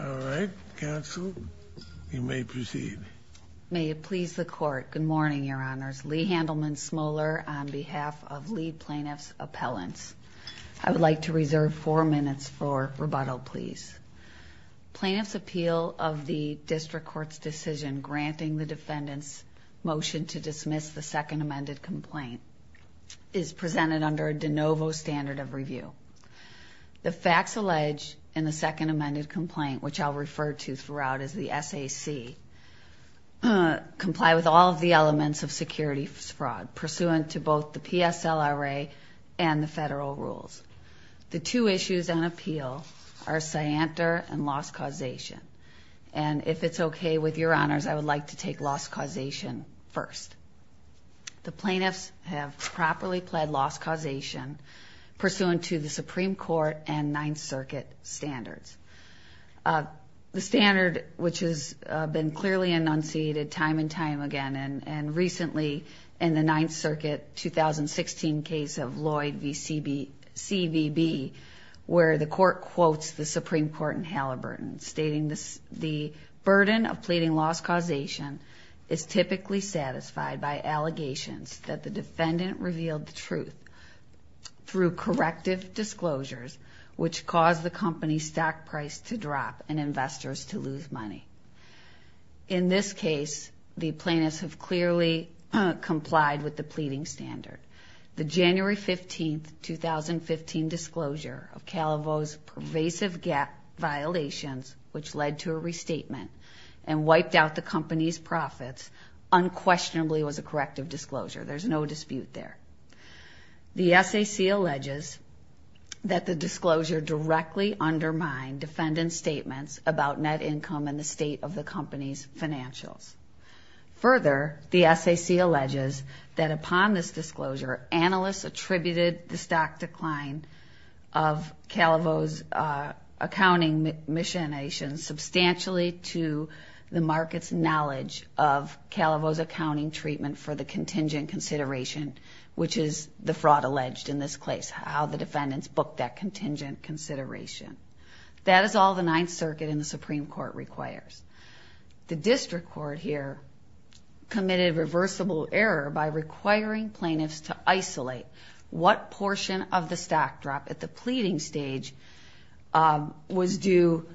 All right. Counsel, you may proceed. May it please the Court. Good morning, Your Honors. Lee Handelman Smoller on behalf of Lee Plaintiff's Appellants. I would like to reserve four minutes for rebuttal, please. Plaintiff's appeal of the District Court's decision granting the defendant's motion to dismiss the second amended complaint is presented under a de novo standard of review. The facts alleged in the second amended complaint, which I'll refer to throughout as the SAC, comply with all of the elements of securities fraud pursuant to both the PSLRA and the federal rules. The two issues on appeal are scienter and loss causation. And if it's okay with Your Honors, I would like to take loss causation first. The plaintiffs have properly pled loss causation pursuant to the Supreme Court and Ninth Circuit standards. The standard, which has been clearly enunciated time and time again, and recently in the Ninth Circuit 2016 case of Lloyd v. CBB, where the Court quotes the Supreme Court in Halliburton, stating the burden of pleading loss causation is typically satisfied by allegations that the defendant revealed the truth through corrective disclosures, which caused the company's stock price to drop and investors to lose money. In this case, the plaintiffs have clearly complied with the pleading standard. The January 15, 2015, disclosure of Calavo's pervasive gap violations, which led to a restatement and wiped out the company's profits, unquestionably was a corrective disclosure. There's no dispute there. The SAC alleges that the disclosure directly undermined defendant's statements about net income and the state of the company's financials. Further, the SAC alleges that upon this disclosure, analysts attributed the stock decline of Calavo's accounting machinations substantially to the market's knowledge of Calavo's accounting treatment for the contingent consideration, which is the fraud alleged in this case, how the defendants booked that contingent consideration. That is all the Ninth Circuit and the Supreme Court requires. The district court here committed reversible error by requiring plaintiffs to isolate what portion of the stock drop at the pleading stage was due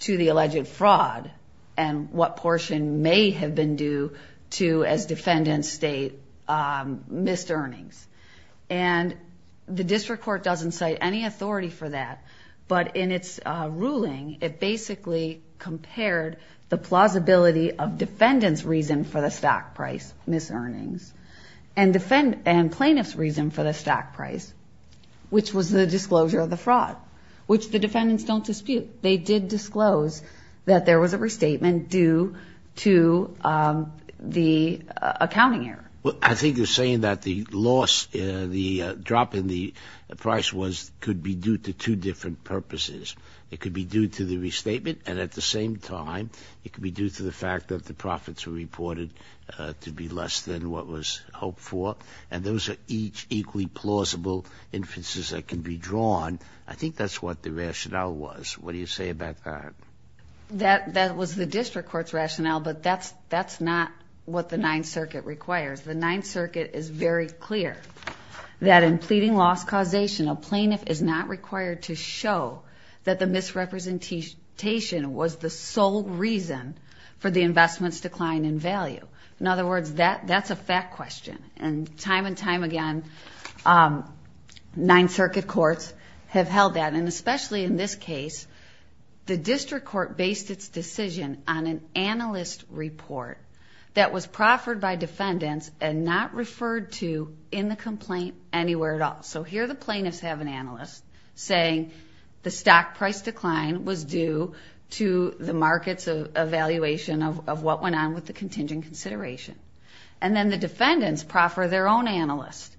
to the alleged fraud and what portion may have been due to, as defendants state, missed earnings. And the district court doesn't cite any authority for that, but in its ruling, it basically compared the plausibility of defendant's reason for the stock price, missed earnings, and plaintiff's reason for the stock price, which was the disclosure of the fraud, which the defendants don't dispute. They did disclose that there was a restatement due to the accounting error. Well, I think you're saying that the loss, the drop in the price, could be due to two different purposes. It could be due to the restatement, and at the same time, it could be due to the fact that the profits were reported to be less than what was hoped for. And those are each equally plausible inferences that can be drawn. I think that's what the rationale was. What do you say about that? That was the district court's rationale, but that's not what the Ninth Circuit requires. The Ninth Circuit is very clear that in pleading loss causation, a plaintiff is not required to show that the misrepresentation was the sole reason for the investment's decline in value. In other words, that's a fact question. And time and time again, Ninth Circuit courts have held that. And especially in this case, the district court based its decision on an analyst report that was proffered by defendants and not referred to in the complaint anywhere at all. So here the plaintiffs have an analyst saying the stock price decline was due to the market's evaluation of what went on with the contingent consideration. And then the defendants proffer their own analyst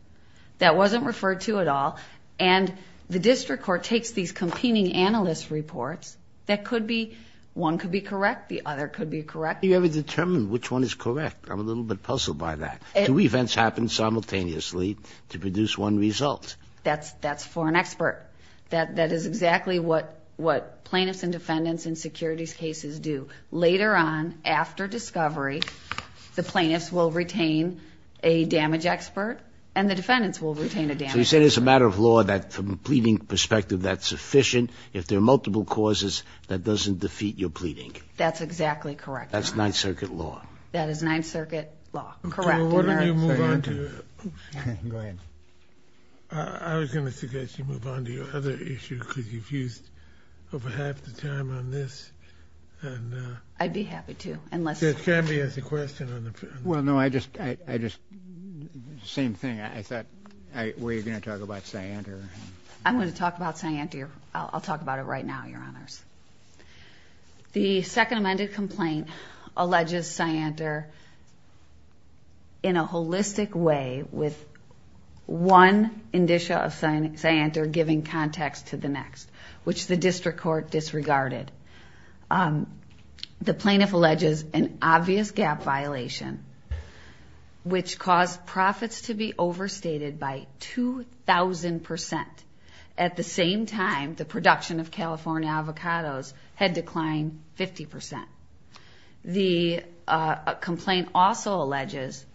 that wasn't referred to at all, and the district court takes these competing analyst reports that could be one could be correct, the other could be correct. How do you ever determine which one is correct? I'm a little bit puzzled by that. Two events happen simultaneously to produce one result. That's for an expert. That is exactly what plaintiffs and defendants in securities cases do. Later on, after discovery, the plaintiffs will retain a damage expert and the defendants will retain a damage expert. So you're saying it's a matter of law that from a pleading perspective that's sufficient if there are multiple causes that doesn't defeat your pleading. That's exactly correct. That's Ninth Circuit law. That is Ninth Circuit law. Correct. Okay. Go ahead. I was going to suggest you move on to your other issue because you've used over half the time on this. I'd be happy to, unless you have a question. Well, no, I just same thing. I thought we were going to talk about Cyanter. I'm going to talk about Cyanter. I'll talk about it right now, Your Honors. The Second Amended Complaint alleges Cyanter in a holistic way with one indicia of Cyanter giving context to the next, which the district court disregarded. The plaintiff alleges an obvious gap violation, which caused profits to be overstated by 2,000%. At the same time, the production of California avocados had declined 50%. The complaint also alleges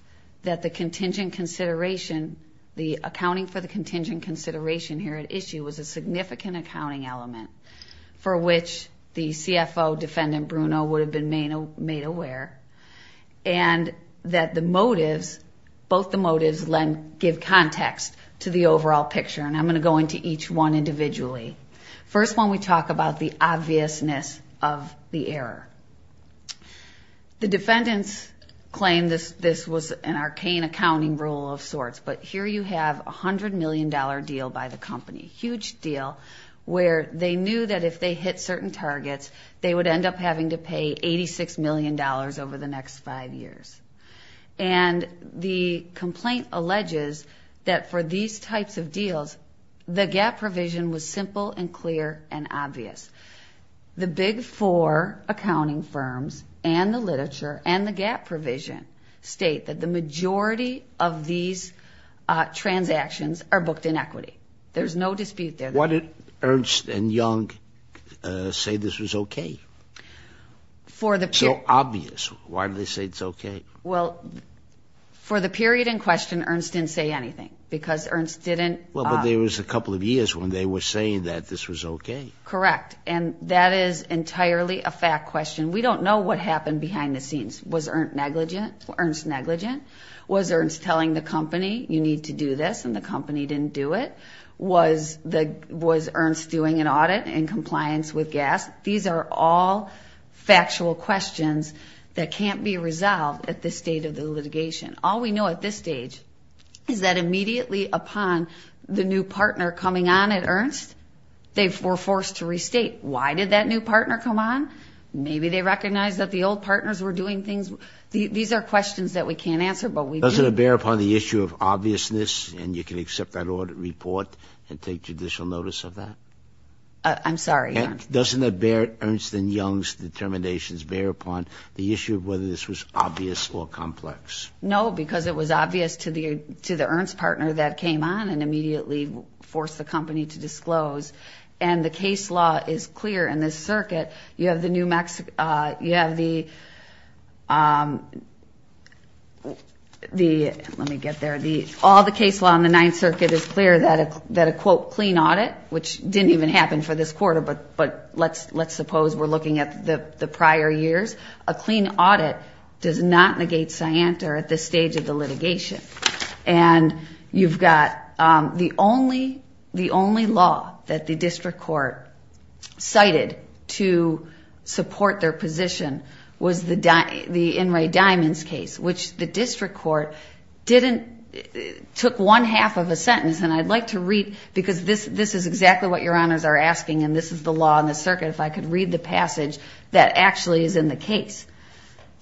that the contingent consideration, the accounting for the contingent consideration here at issue was a significant accounting element for which the CFO, Defendant Bruno, would have been made aware and that both the motives give context to the overall picture. I'm going to go into each one individually. First one, we talk about the obviousness of the error. The defendants claim this was an arcane accounting rule of sorts, but here you have a $100 million deal by the company, a huge deal where they knew that if they hit certain targets, they would end up having to pay $86 million over the next five years. And the complaint alleges that for these types of deals, the gap provision was simple and clear and obvious. The big four accounting firms and the literature and the gap provision state that the majority of these transactions are booked in equity. There's no dispute there. Why did Ernst and Young say this was okay? So obvious. Why did they say it's okay? Well, for the period in question, Ernst didn't say anything because Ernst didn't. Well, but there was a couple of years when they were saying that this was okay. Correct. And that is entirely a fact question. We don't know what happened behind the scenes. Was Ernst negligent? Was Ernst telling the company you need to do this and the company didn't do it? Was Ernst doing an audit in compliance with GAS? These are all factual questions that can't be resolved at this stage of the litigation. All we know at this stage is that immediately upon the new partner coming on at Ernst, they were forced to restate. Why did that new partner come on? Maybe they recognized that the old partners were doing things. These are questions that we can't answer, but we do. Doesn't it bear upon the issue of obviousness, and you can accept that audit report and take judicial notice of that? I'm sorry, Your Honor. Doesn't it bear Ernst and Young's determinations, bear upon the issue of whether this was obvious or complex? No, because it was obvious to the Ernst partner that came on and immediately forced the company to disclose. And the case law is clear in this circuit. You have the New Mexico – you have the – let me get there. All the case law in the Ninth Circuit is clear that a, quote, but let's suppose we're looking at the prior years. A clean audit does not negate scienter at this stage of the litigation. And you've got the only law that the district court cited to support their position was the In re Diamonds case, which the district court didn't – took one half of a sentence, and I'd like to read – because this is exactly what Your Honors are asking, and this is the law in the circuit. If I could read the passage that actually is in the case.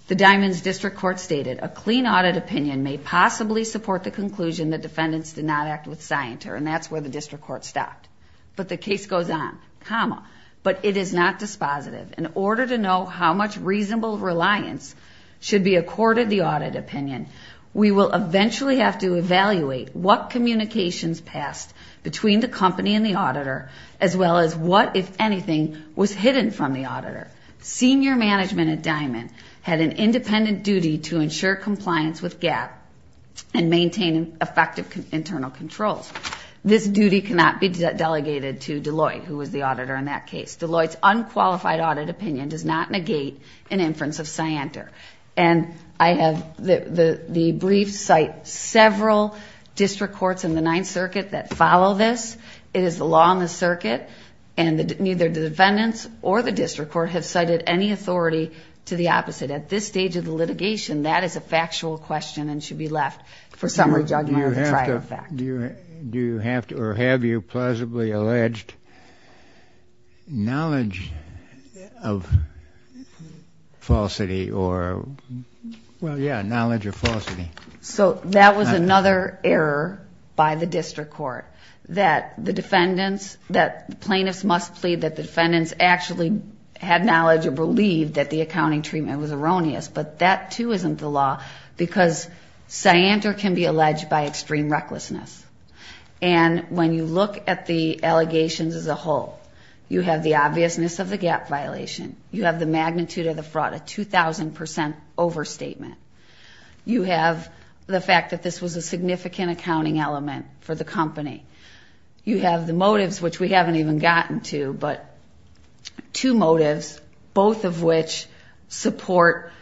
The Diamonds district court stated, a clean audit opinion may possibly support the conclusion that defendants did not act with scienter, and that's where the district court stopped. But the case goes on. Comma, but it is not dispositive. In order to know how much reasonable reliance should be accorded the audit opinion, we will eventually have to evaluate what communications passed between the company and the auditor, as well as what, if anything, was hidden from the auditor. Senior management at Diamond had an independent duty to ensure compliance with GAP and maintain effective internal controls. This duty cannot be delegated to Deloitte, who was the auditor in that case. Deloitte's unqualified audit opinion does not negate an inference of scienter. And I have the brief cite several district courts in the Ninth Circuit that follow this. It is the law in the circuit, and neither the defendants or the district court have cited any authority to the opposite. At this stage of the litigation, that is a factual question and should be left for summary judgment on the trial fact. Do you have to or have you plausibly alleged knowledge of falsity or? Well, yeah, knowledge of falsity. So that was another error by the district court, that the defendants, that plaintiffs must plead that the defendants actually had knowledge or believed that the accounting treatment was erroneous. But that, too, isn't the law because scienter can be alleged by extreme recklessness. And when you look at the allegations as a whole, you have the obviousness of the GAP violation. You have the magnitude of the fraud, a 2,000 percent overstatement. You have the fact that this was a significant accounting element for the company. You have the motives, which we haven't even gotten to, but two motives, both of which support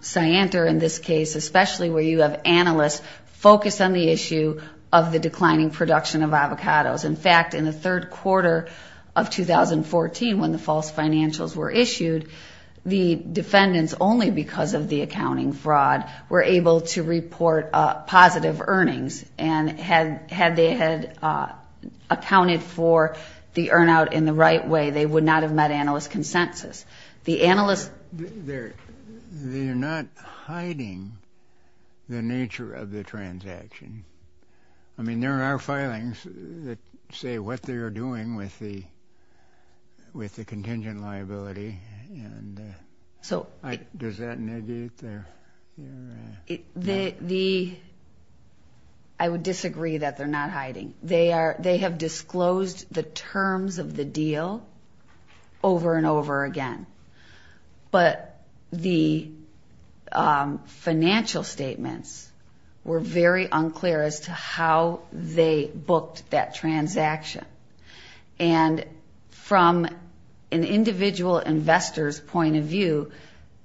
scienter in this case, especially where you have analysts focus on the issue of the declining production of avocados. In fact, in the third quarter of 2014, when the false financials were issued, the defendants, only because of the accounting fraud, were able to report positive earnings. And had they had accounted for the earn out in the right way, they would not have met analyst consensus. They're not hiding the nature of the transaction. I mean, there are filings that say what they are doing with the contingent liability. Does that negate their... I would disagree that they're not hiding. They have disclosed the terms of the deal over and over again. But the financial statements were very unclear as to how they booked that transaction. And from an individual investor's point of view,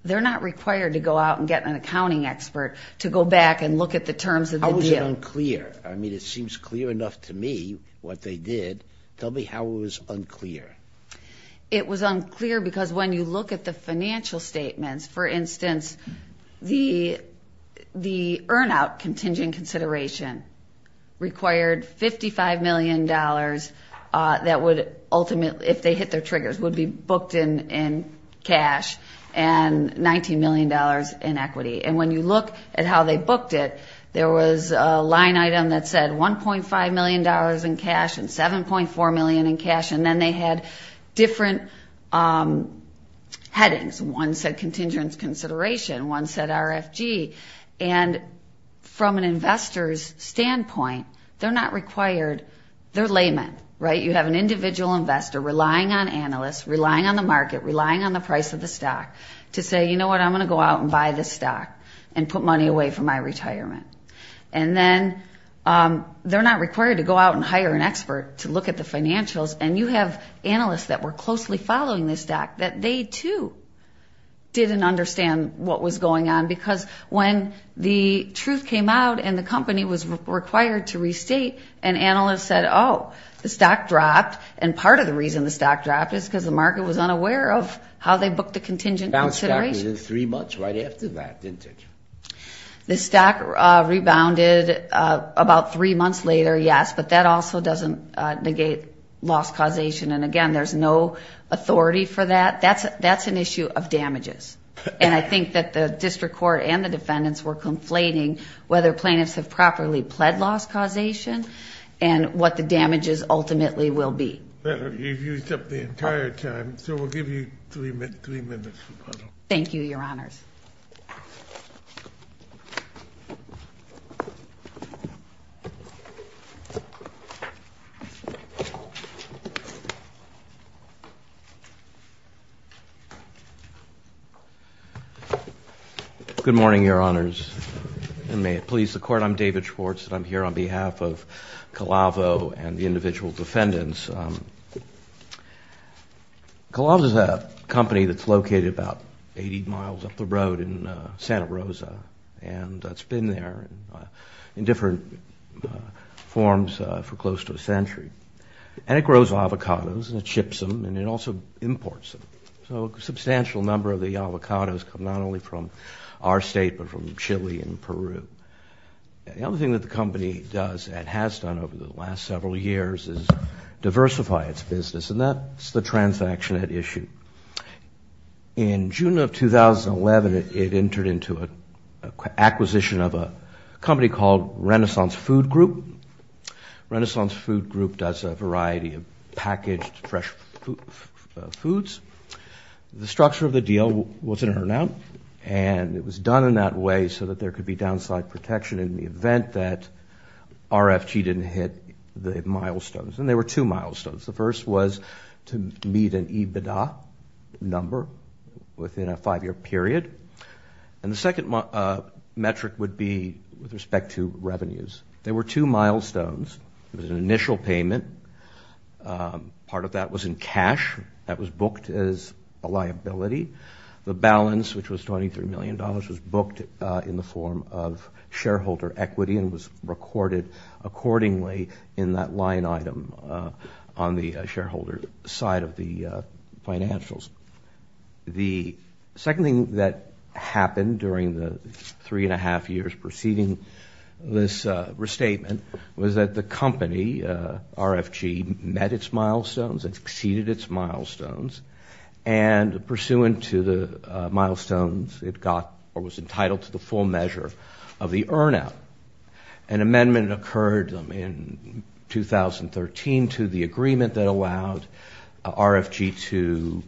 they're not required to go out and get an accounting expert to go back and look at the terms of the deal. How was it unclear? I mean, it seems clear enough to me what they did. Tell me how it was unclear. It was unclear because when you look at the financial statements, for instance, the earn out contingent consideration required $55 million that would ultimately, if they hit their triggers, would be booked in cash and $19 million in equity. And when you look at how they booked it, there was a line item that said $1.5 million in cash and $7.4 million in cash. And then they had different headings. One said contingent consideration. One said RFG. And from an investor's standpoint, they're not required. They're laymen, right? You have an individual investor relying on analysts, relying on the market, relying on the price of the stock to say, you know what, I'm going to go out and buy this stock and put money away for my retirement. And then they're not required to go out and hire an expert to look at the financials, and you have analysts that were closely following this stock that they, too, didn't understand what was going on because when the truth came out and the company was required to restate, an analyst said, oh, the stock dropped, and part of the reason the stock dropped is because the market was unaware of how they booked the contingent consideration. The stock rebounded about three months later, yes, but that also doesn't negate loss causation. And, again, there's no authority for that. That's an issue of damages. And I think that the district court and the defendants were conflating whether plaintiffs have properly pled loss causation and what the damages ultimately will be. You've used up the entire time, so we'll give you three minutes. Thank you, Your Honors. Good morning, Your Honors. And may it please the Court, I'm David Schwartz, and I'm here on behalf of Colavo and the individual defendants. Colavo is a company that's located about 80 miles up the road in Santa Rosa, and it's been there in different forms for close to a century. And it grows avocados, and it ships them, and it also imports them. So a substantial number of the avocados come not only from our state but from Chile and Peru. The other thing that the company does and has done over the last several years is diversify its business, and that's the transaction it issued. In June of 2011, it entered into an acquisition of a company called Renaissance Food Group. Renaissance Food Group does a variety of packaged fresh foods. The structure of the deal was in and out, and it was done in that way so that there could be downside protection in the event that RFG didn't hit the milestones. And there were two milestones. The first was to meet an EBITDA number within a five-year period. And the second metric would be with respect to revenues. There were two milestones. There was an initial payment. Part of that was in cash that was booked as a liability. The balance, which was $23 million, was booked in the form of shareholder equity and was recorded accordingly in that line item on the shareholder side of the financials. The second thing that happened during the three-and-a-half years preceding this restatement was that the company, RFG, met its milestones and exceeded its milestones. And pursuant to the milestones, it got or was entitled to the full measure of the earn-out. An amendment occurred in 2013 to the agreement that allowed RFG to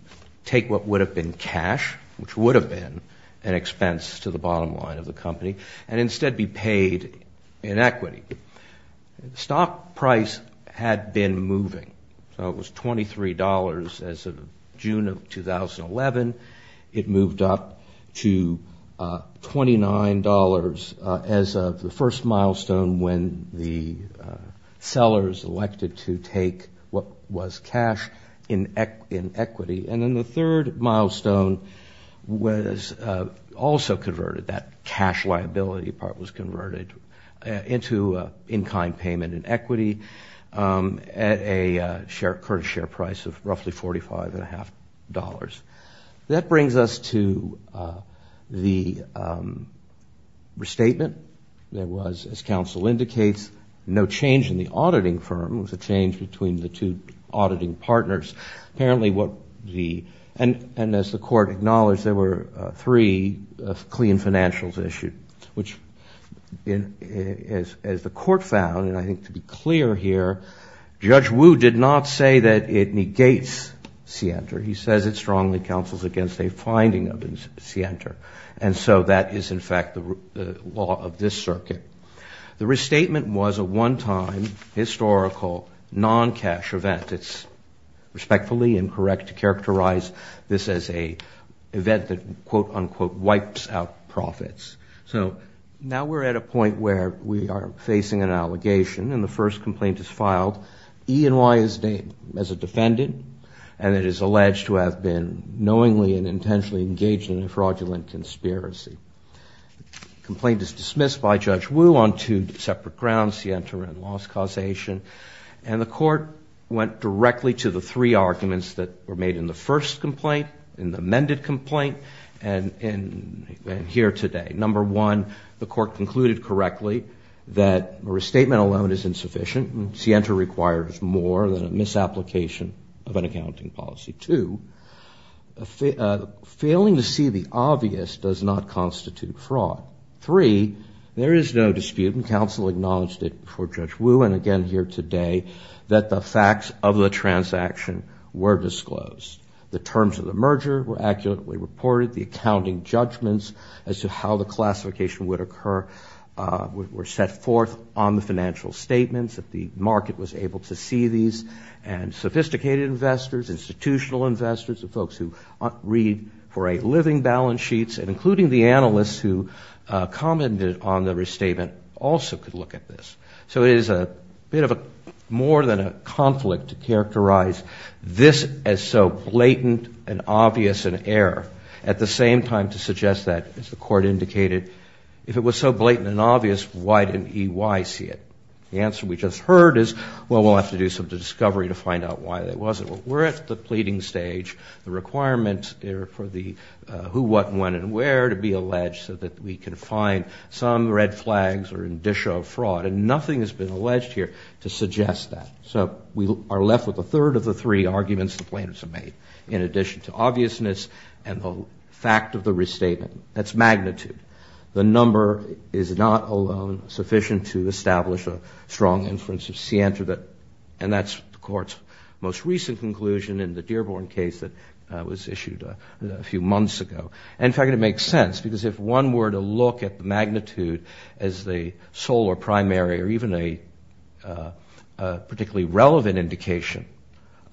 take what would have been cash, which would have been an expense to the bottom line of the company, and instead be paid in equity. The stock price had been moving. So it was $23. As of June of 2011, it moved up to $29 as of the first milestone when the sellers elected to take what was cash in equity. And then the third milestone was also converted. That cash liability part was converted into in-kind payment in equity at a current share price of roughly $45.50. That brings us to the restatement. There was, as counsel indicates, no change in the auditing firm. It was a change between the two auditing partners. Apparently what the – and as the Court acknowledged, there were three clean financials issued, which as the Court found, and I think to be clear here, Judge Wu did not say that it negates scienter. He says it strongly counsels against a finding of scienter. And so that is, in fact, the law of this circuit. The restatement was a one-time historical non-cash event. It's respectfully incorrect to characterize this as an event that, quote-unquote, wipes out profits. So now we're at a point where we are facing an allegation, and the first complaint is filed. E&Y is named as a defendant, and it is alleged to have been knowingly and intentionally engaged in a fraudulent conspiracy. The complaint is dismissed by Judge Wu on two separate grounds, scienter and loss causation. And the Court went directly to the three arguments that were made in the first complaint, in the amended complaint, and here today. Number one, the Court concluded correctly that a restatement alone is insufficient. Scienter requires more than a misapplication of an accounting policy. Two, failing to see the obvious does not constitute fraud. Three, there is no dispute, and counsel acknowledged it before Judge Wu, and again here today, that the facts of the transaction were disclosed. The terms of the merger were accurately reported. The accounting judgments as to how the classification would occur were set forth on the financial statements that the market was able to see these, and sophisticated investors, institutional investors, the folks who read for a living balance sheets, and including the analysts who commented on the restatement also could look at this. So it is a bit of a, more than a conflict to characterize this as so blatant and obvious an error. At the same time, to suggest that, as the Court indicated, if it was so blatant and obvious, why didn't EY see it? The answer we just heard is, well, we'll have to do some discovery to find out why that wasn't. We're at the pleading stage, the requirement for the who, what, when, and where to be alleged so that we can find some red flags or indicia of fraud, and nothing has been alleged here to suggest that. So we are left with a third of the three arguments the plaintiffs have made, in addition to obviousness and the fact of the restatement. That's magnitude. The number is not alone sufficient to establish a strong inference of scienter that, and that's the Court's most recent conclusion in the Dearborn case that was issued a few months ago. In fact, it makes sense, because if one were to look at magnitude as the sole or primary or even a particularly relevant indication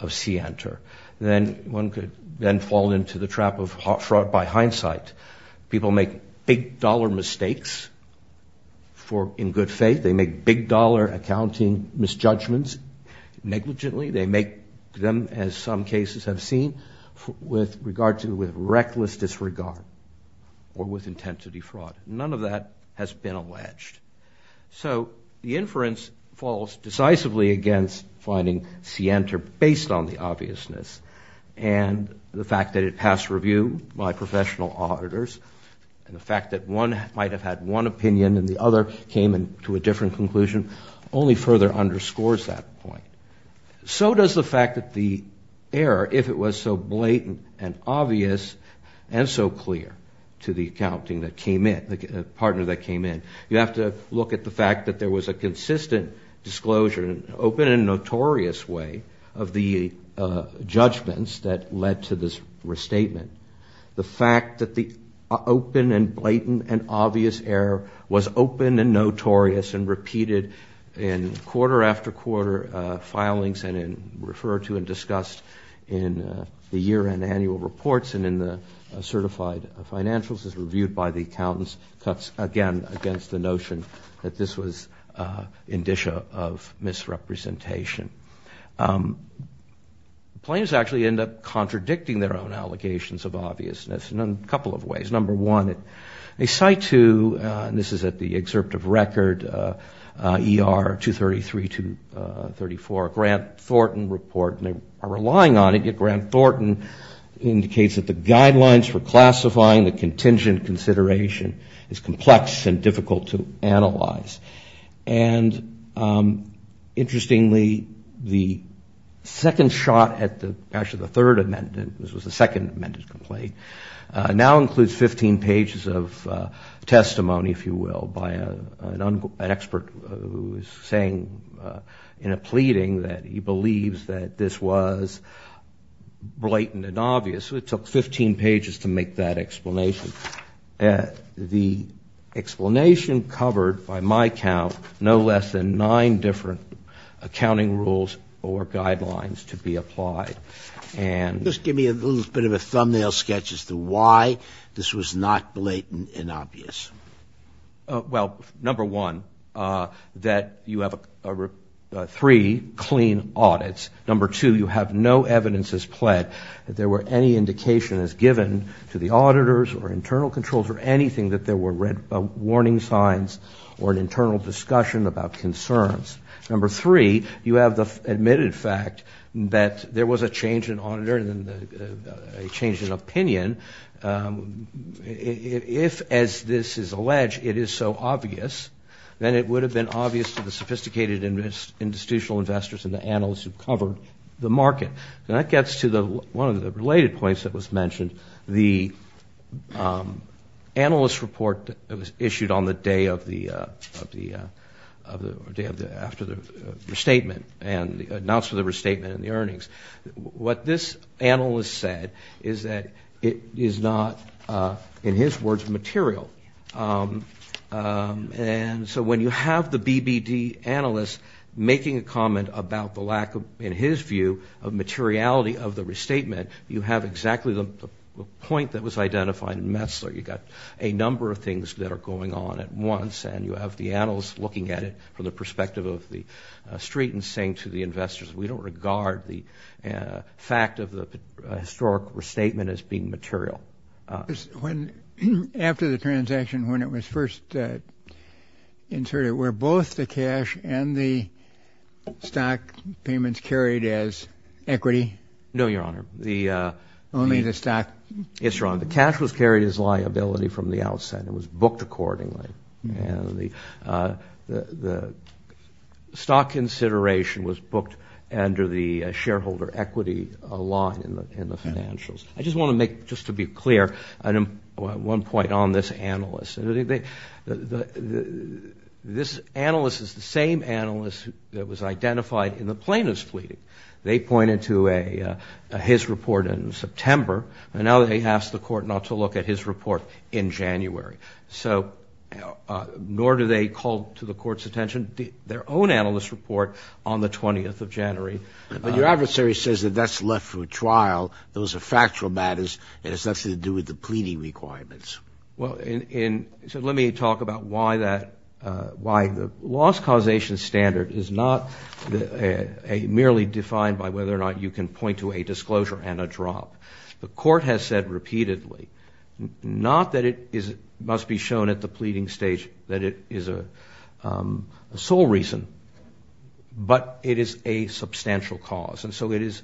of scienter, then one could then fall into the trap of fraud by hindsight. People make big-dollar mistakes in good faith. They make big-dollar accounting misjudgments negligently. They make them, as some cases have seen, with regard to reckless disregard or with intent to defraud. None of that has been alleged. So the inference falls decisively against finding scienter based on the obviousness, and the fact that it passed review by professional auditors, and the fact that one might have had one opinion and the other came to a different conclusion, only further underscores that point. So does the fact that the error, if it was so blatant and obvious and so clear to the accounting that came in, the partner that came in, you have to look at the fact that there was a consistent disclosure, an open and notorious way of the judgments that led to this restatement. The fact that the open and blatant and obvious error was open and notorious and repeated in quarter after quarter filings and referred to and discussed in the year-end annual reports and in the certified financials as reviewed by the accountants, cuts again against the notion that this was indicia of misrepresentation. Claims actually end up contradicting their own allegations of obviousness in a couple of ways. Number one, they cite to, and this is at the excerpt of record, ER 233 to 34, Grant Thornton report, and they are relying on it, yet Grant Thornton indicates that the guidelines for classifying the contingent consideration is complex and difficult to analyze. And interestingly, the second shot at the, actually the third amendment, this was the second amendment complaint, now includes 15 pages of testimony, if you will, by an expert who is saying in a pleading that he believes that this was blatant and obvious. It took 15 pages to make that explanation. The explanation covered, by my count, no less than nine different accounting rules or guidelines to be applied. Just give me a little bit of a thumbnail sketch as to why this was not blatant and obvious. Well, number one, that you have three clean audits. Number two, you have no evidence as pled that there were any indication as given to the auditors or internal controls or anything that there were warning signs or an internal discussion about concerns. Number three, you have the admitted fact that there was a change in auditor and a change in opinion. If, as this is alleged, it is so obvious, then it would have been obvious to the sophisticated and institutional investors and the analysts who covered the market. And that gets to one of the related points that was mentioned, the analyst report that was issued on the day of the, or day after the restatement and the announcement of the restatement and the earnings. What this analyst said is that it is not, in his words, material. And so when you have the BBD analyst making a comment about the lack, in his view, of materiality of the restatement, you have exactly the point that was identified in Metzler. You've got a number of things that are going on at once, and you have the analyst looking at it from the perspective of the street and saying to the investors, we don't regard the fact of the historic restatement as being material. When, after the transaction, when it was first inserted, were both the cash and the stock payments carried as equity? No, Your Honor. Only the stock? Yes, Your Honor. The cash was carried as liability from the outset. It was booked accordingly. And the stock consideration was booked under the shareholder equity law in the financials. I just want to make, just to be clear, one point on this analyst. This analyst is the same analyst that was identified in the plaintiff's plea. They pointed to his report in September, and now they ask the Court not to look at his report in January. So nor do they call to the Court's attention their own analyst's report on the 20th of January. But your adversary says that that's left for a trial, those are factual matters, and it has nothing to do with the pleading requirements. Well, so let me talk about why the loss causation standard is not merely defined by whether or not you can point to a disclosure and a drop. The Court has said repeatedly, not that it must be shown at the pleading stage that it is a sole reason, but it is a substantial cause. And so it is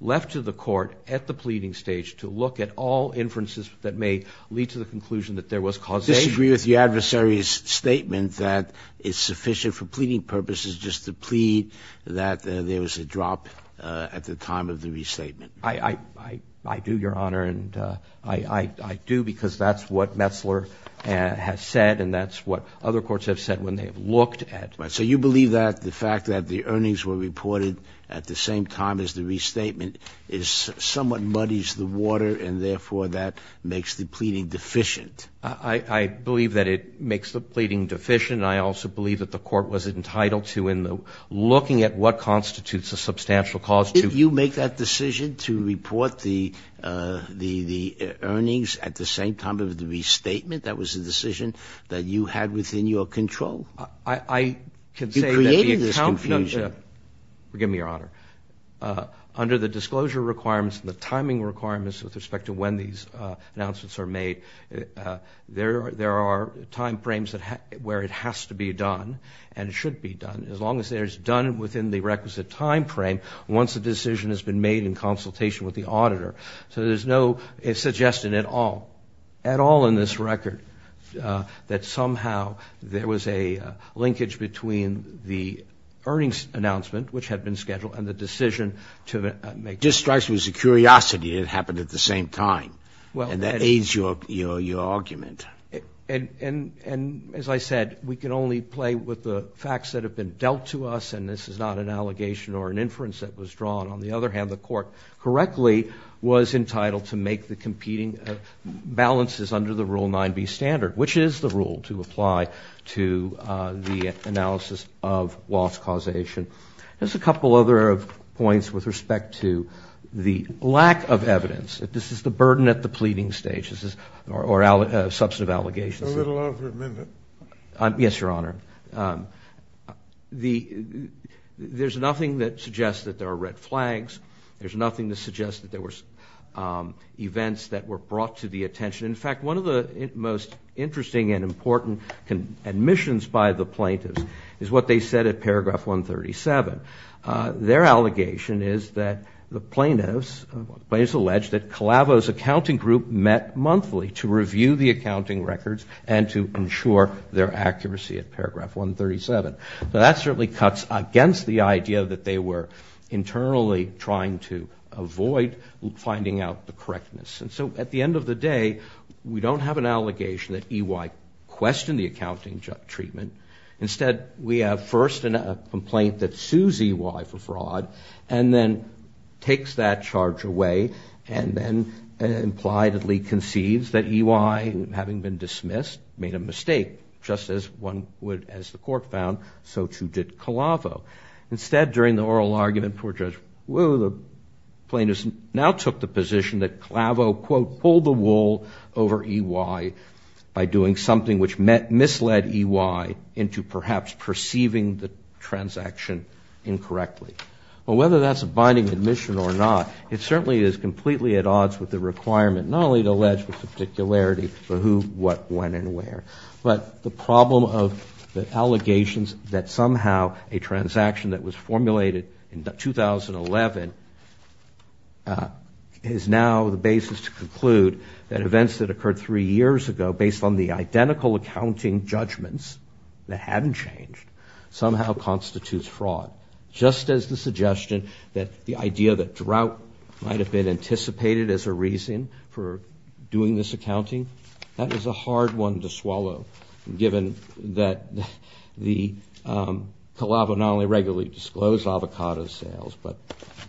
left to the Court at the pleading stage to look at all inferences that may lead to the conclusion that there was causation. Do you disagree with your adversary's statement that it's sufficient for pleading purposes just to plead that there was a drop at the time of the restatement? I do, Your Honor, and I do because that's what Metzler has said, and that's what other courts have said when they've looked at it. So you believe that the fact that the earnings were reported at the same time as the restatement somewhat muddies the water and, therefore, that makes the pleading deficient? I believe that it makes the pleading deficient, and I also believe that the Court was entitled to in looking at what constitutes a substantial cause. Did you make that decision to report the earnings at the same time as the restatement? That was a decision that you had within your control? You created this confusion. I can say that the accountants have, forgive me, Your Honor, under the disclosure requirements and the timing requirements with respect to when these announcements are made, there are timeframes where it has to be done and it should be done, as long as it's done within the requisite timeframe once the decision has been made in consultation with the auditor. So there's no suggestion at all, at all in this record, that somehow there was a linkage between the earnings announcement, which had been scheduled, and the decision to make. It just strikes me as a curiosity that it happened at the same time, and that aids your argument. And, as I said, we can only play with the facts that have been dealt to us, and this is not an allegation or an inference that was drawn. On the other hand, the Court correctly was entitled to make the competing balances under the Rule 9b standard, which is the rule to apply to the analysis of loss causation. There's a couple other points with respect to the lack of evidence. This is the burden at the pleading stage, or substantive allegations. A little over a minute. Yes, Your Honor. There's nothing that suggests that there are red flags. There's nothing that suggests that there were events that were brought to the attention. In fact, one of the most interesting and important admissions by the plaintiffs is what they said at paragraph 137. Their allegation is that the plaintiffs alleged that Calavo's accounting group met monthly to review the accounting records and to ensure their accuracy at paragraph 137. So that certainly cuts against the idea that they were internally trying to avoid finding out the correctness. And so, at the end of the day, we don't have an allegation that EY questioned the accounting treatment. Instead, we have first a complaint that sues EY for fraud and then takes that charge away and then impliedly conceives that EY, having been dismissed, made a mistake, just as one would, as the court found, so too did Calavo. Instead, during the oral argument before Judge Wu, the plaintiffs now took the position that Calavo, quote, pulled the wool over EY by doing something which misled EY into perhaps perceiving the transaction incorrectly. Well, whether that's a binding admission or not, it certainly is completely at odds with the requirement not only to allege with particularity for who, what, when, and where. But the problem of the allegations that somehow a transaction that was formulated in 2011 is now the basis to conclude that events that occurred three years ago, based on the identical accounting judgments that hadn't changed, somehow constitutes fraud. Just as the suggestion that the idea that drought might have been anticipated as a reason for doing this accounting, that is a hard one to swallow, given that Calavo not only regularly disclosed avocado sales, but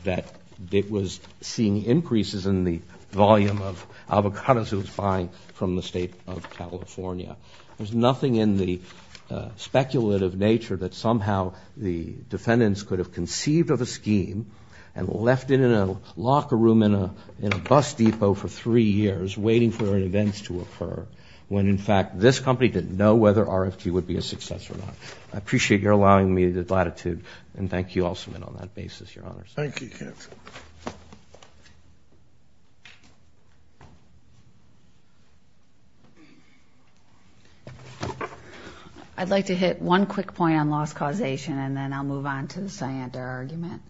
that it was seeing increases in the volume of avocados it was buying from the state of California. There's nothing in the speculative nature that somehow the defendants could have conceived of a scheme and left it in a locker room in a bus depot for three years waiting for an event to occur when, in fact, this company didn't know whether RFT would be a success or not. I appreciate your allowing me the latitude, and thank you, also, on that basis, Your Honors. Thank you, counsel. I'd like to hit one quick point on loss causation, and then I'll move on to the Syantar argument.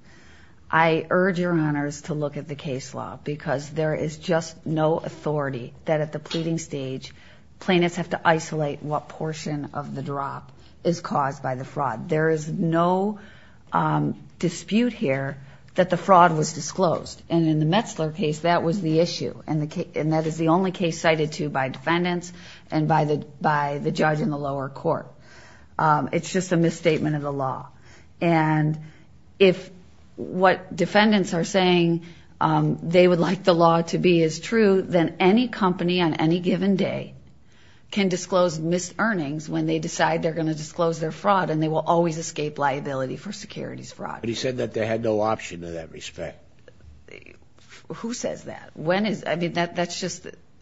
I urge Your Honors to look at the case law, because there is just no authority that at the pleading stage plaintiffs have to isolate what portion of the drop is caused by the fraud. There is no dispute here that the fraud was disclosed. And in the Metzler case, that was the issue, and that is the only case cited to by defendants and by the judge in the lower court. It's just a misstatement of the law. And if what defendants are saying they would like the law to be is true, then any company on any given day can disclose mis-earnings when they decide they're going to disclose their fraud, and they will always escape liability for securities fraud. But he said that they had no option in that respect. Who says that?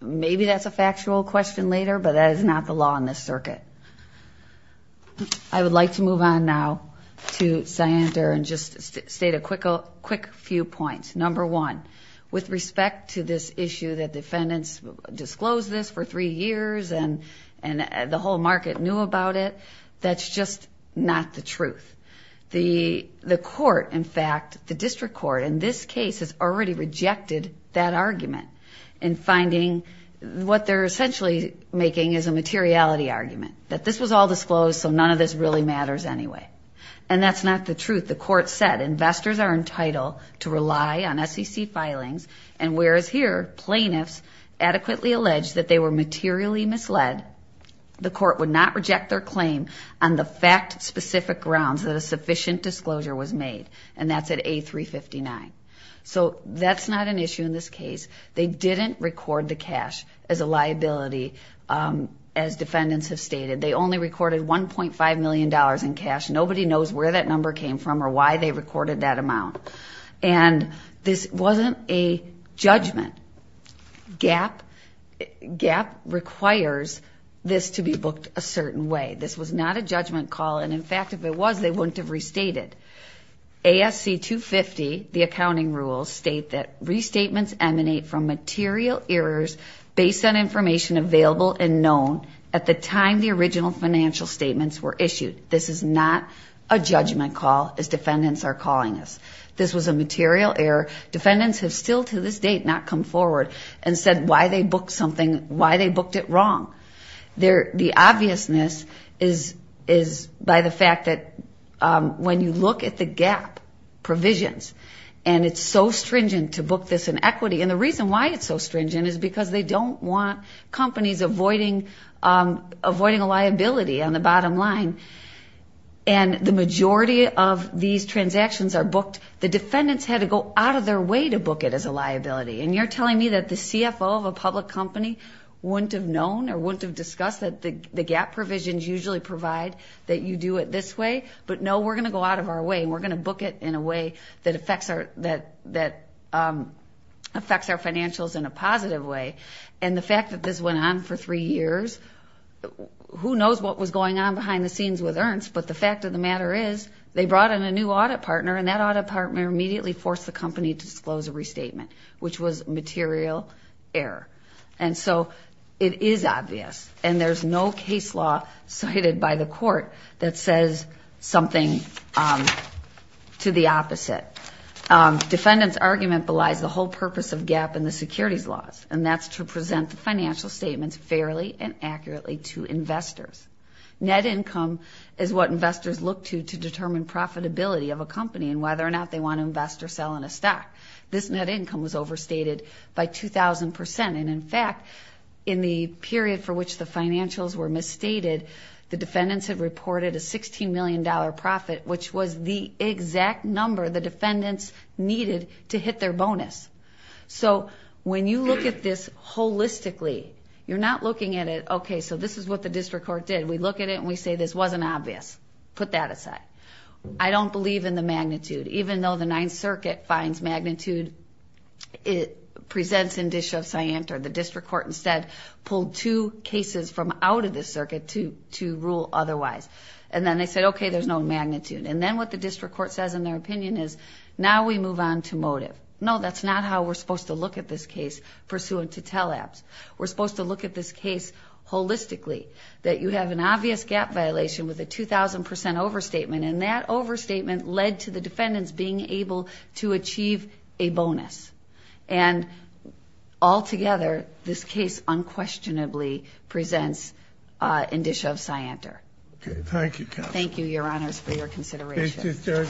Maybe that's a factual question later, but that is not the law in this circuit. I would like to move on now to Syantar and just state a quick few points. Number one, with respect to this issue that defendants disclosed this for three years and the whole market knew about it, that's just not the truth. The court, in fact, the district court in this case has already rejected that argument in finding what they're essentially making is a materiality argument, that this was all disclosed so none of this really matters anyway. And that's not the truth. The court said investors are entitled to rely on SEC filings, and whereas here plaintiffs adequately alleged that they were materially misled, the court would not reject their claim on the fact-specific grounds that a sufficient disclosure was made, and that's at A359. So that's not an issue in this case. They didn't record the cash as a liability, as defendants have stated. They only recorded $1.5 million in cash. Nobody knows where that number came from or why they recorded that amount. And this wasn't a judgment. GAAP requires this to be booked a certain way. This was not a judgment call, and, in fact, if it was, they wouldn't have restated. ASC 250, the accounting rules, state that restatements emanate from material errors based on information available and known at the time the original financial statements were issued. This is not a judgment call, as defendants are calling us. This was a material error. Defendants have still to this date not come forward and said why they booked it wrong. The obviousness is by the fact that when you look at the GAAP provisions, and it's so stringent to book this in equity, and the reason why it's so stringent is because they don't want companies avoiding a liability on the bottom line. And the majority of these transactions are booked. The defendants had to go out of their way to book it as a liability, and you're telling me that the CFO of a public company wouldn't have known or wouldn't have discussed that the GAAP provisions usually provide that you do it this way. But, no, we're going to go out of our way, and we're going to book it in a way that affects our financials in a positive way. And the fact that this went on for three years, who knows what was going on behind the scenes with Ernst, but the fact of the matter is they brought in a new audit partner, and that audit partner immediately forced the company to disclose a restatement, which was material error. And so it is obvious, and there's no case law cited by the court that says something to the opposite. Defendants' argument belies the whole purpose of GAAP and the securities laws, and that's to present the financial statements fairly and accurately to investors. Net income is what investors look to to determine profitability of a company and whether or not they want to invest or sell in a stock. This net income was overstated by 2,000%. And, in fact, in the period for which the financials were misstated, the defendants had reported a $16 million profit, which was the exact number the defendants needed to hit their bonus. So when you look at this holistically, you're not looking at it, okay, so this is what the district court did. We look at it and we say this wasn't obvious. Put that aside. I don't believe in the magnitude. Even though the Ninth Circuit finds magnitude, it presents indicia of scienta. The district court instead pulled two cases from out of this circuit to rule otherwise. And then they said, okay, there's no magnitude. And then what the district court says in their opinion is, now we move on to motive. No, that's not how we're supposed to look at this case pursuant to teleps. We're supposed to look at this case holistically, that you have an obvious gap violation with a 2,000% overstatement, and that overstatement led to the defendants being able to achieve a bonus. And altogether, this case unquestionably presents indicia of scienter. Thank you, counsel. Thank you, Your Honors, for your consideration.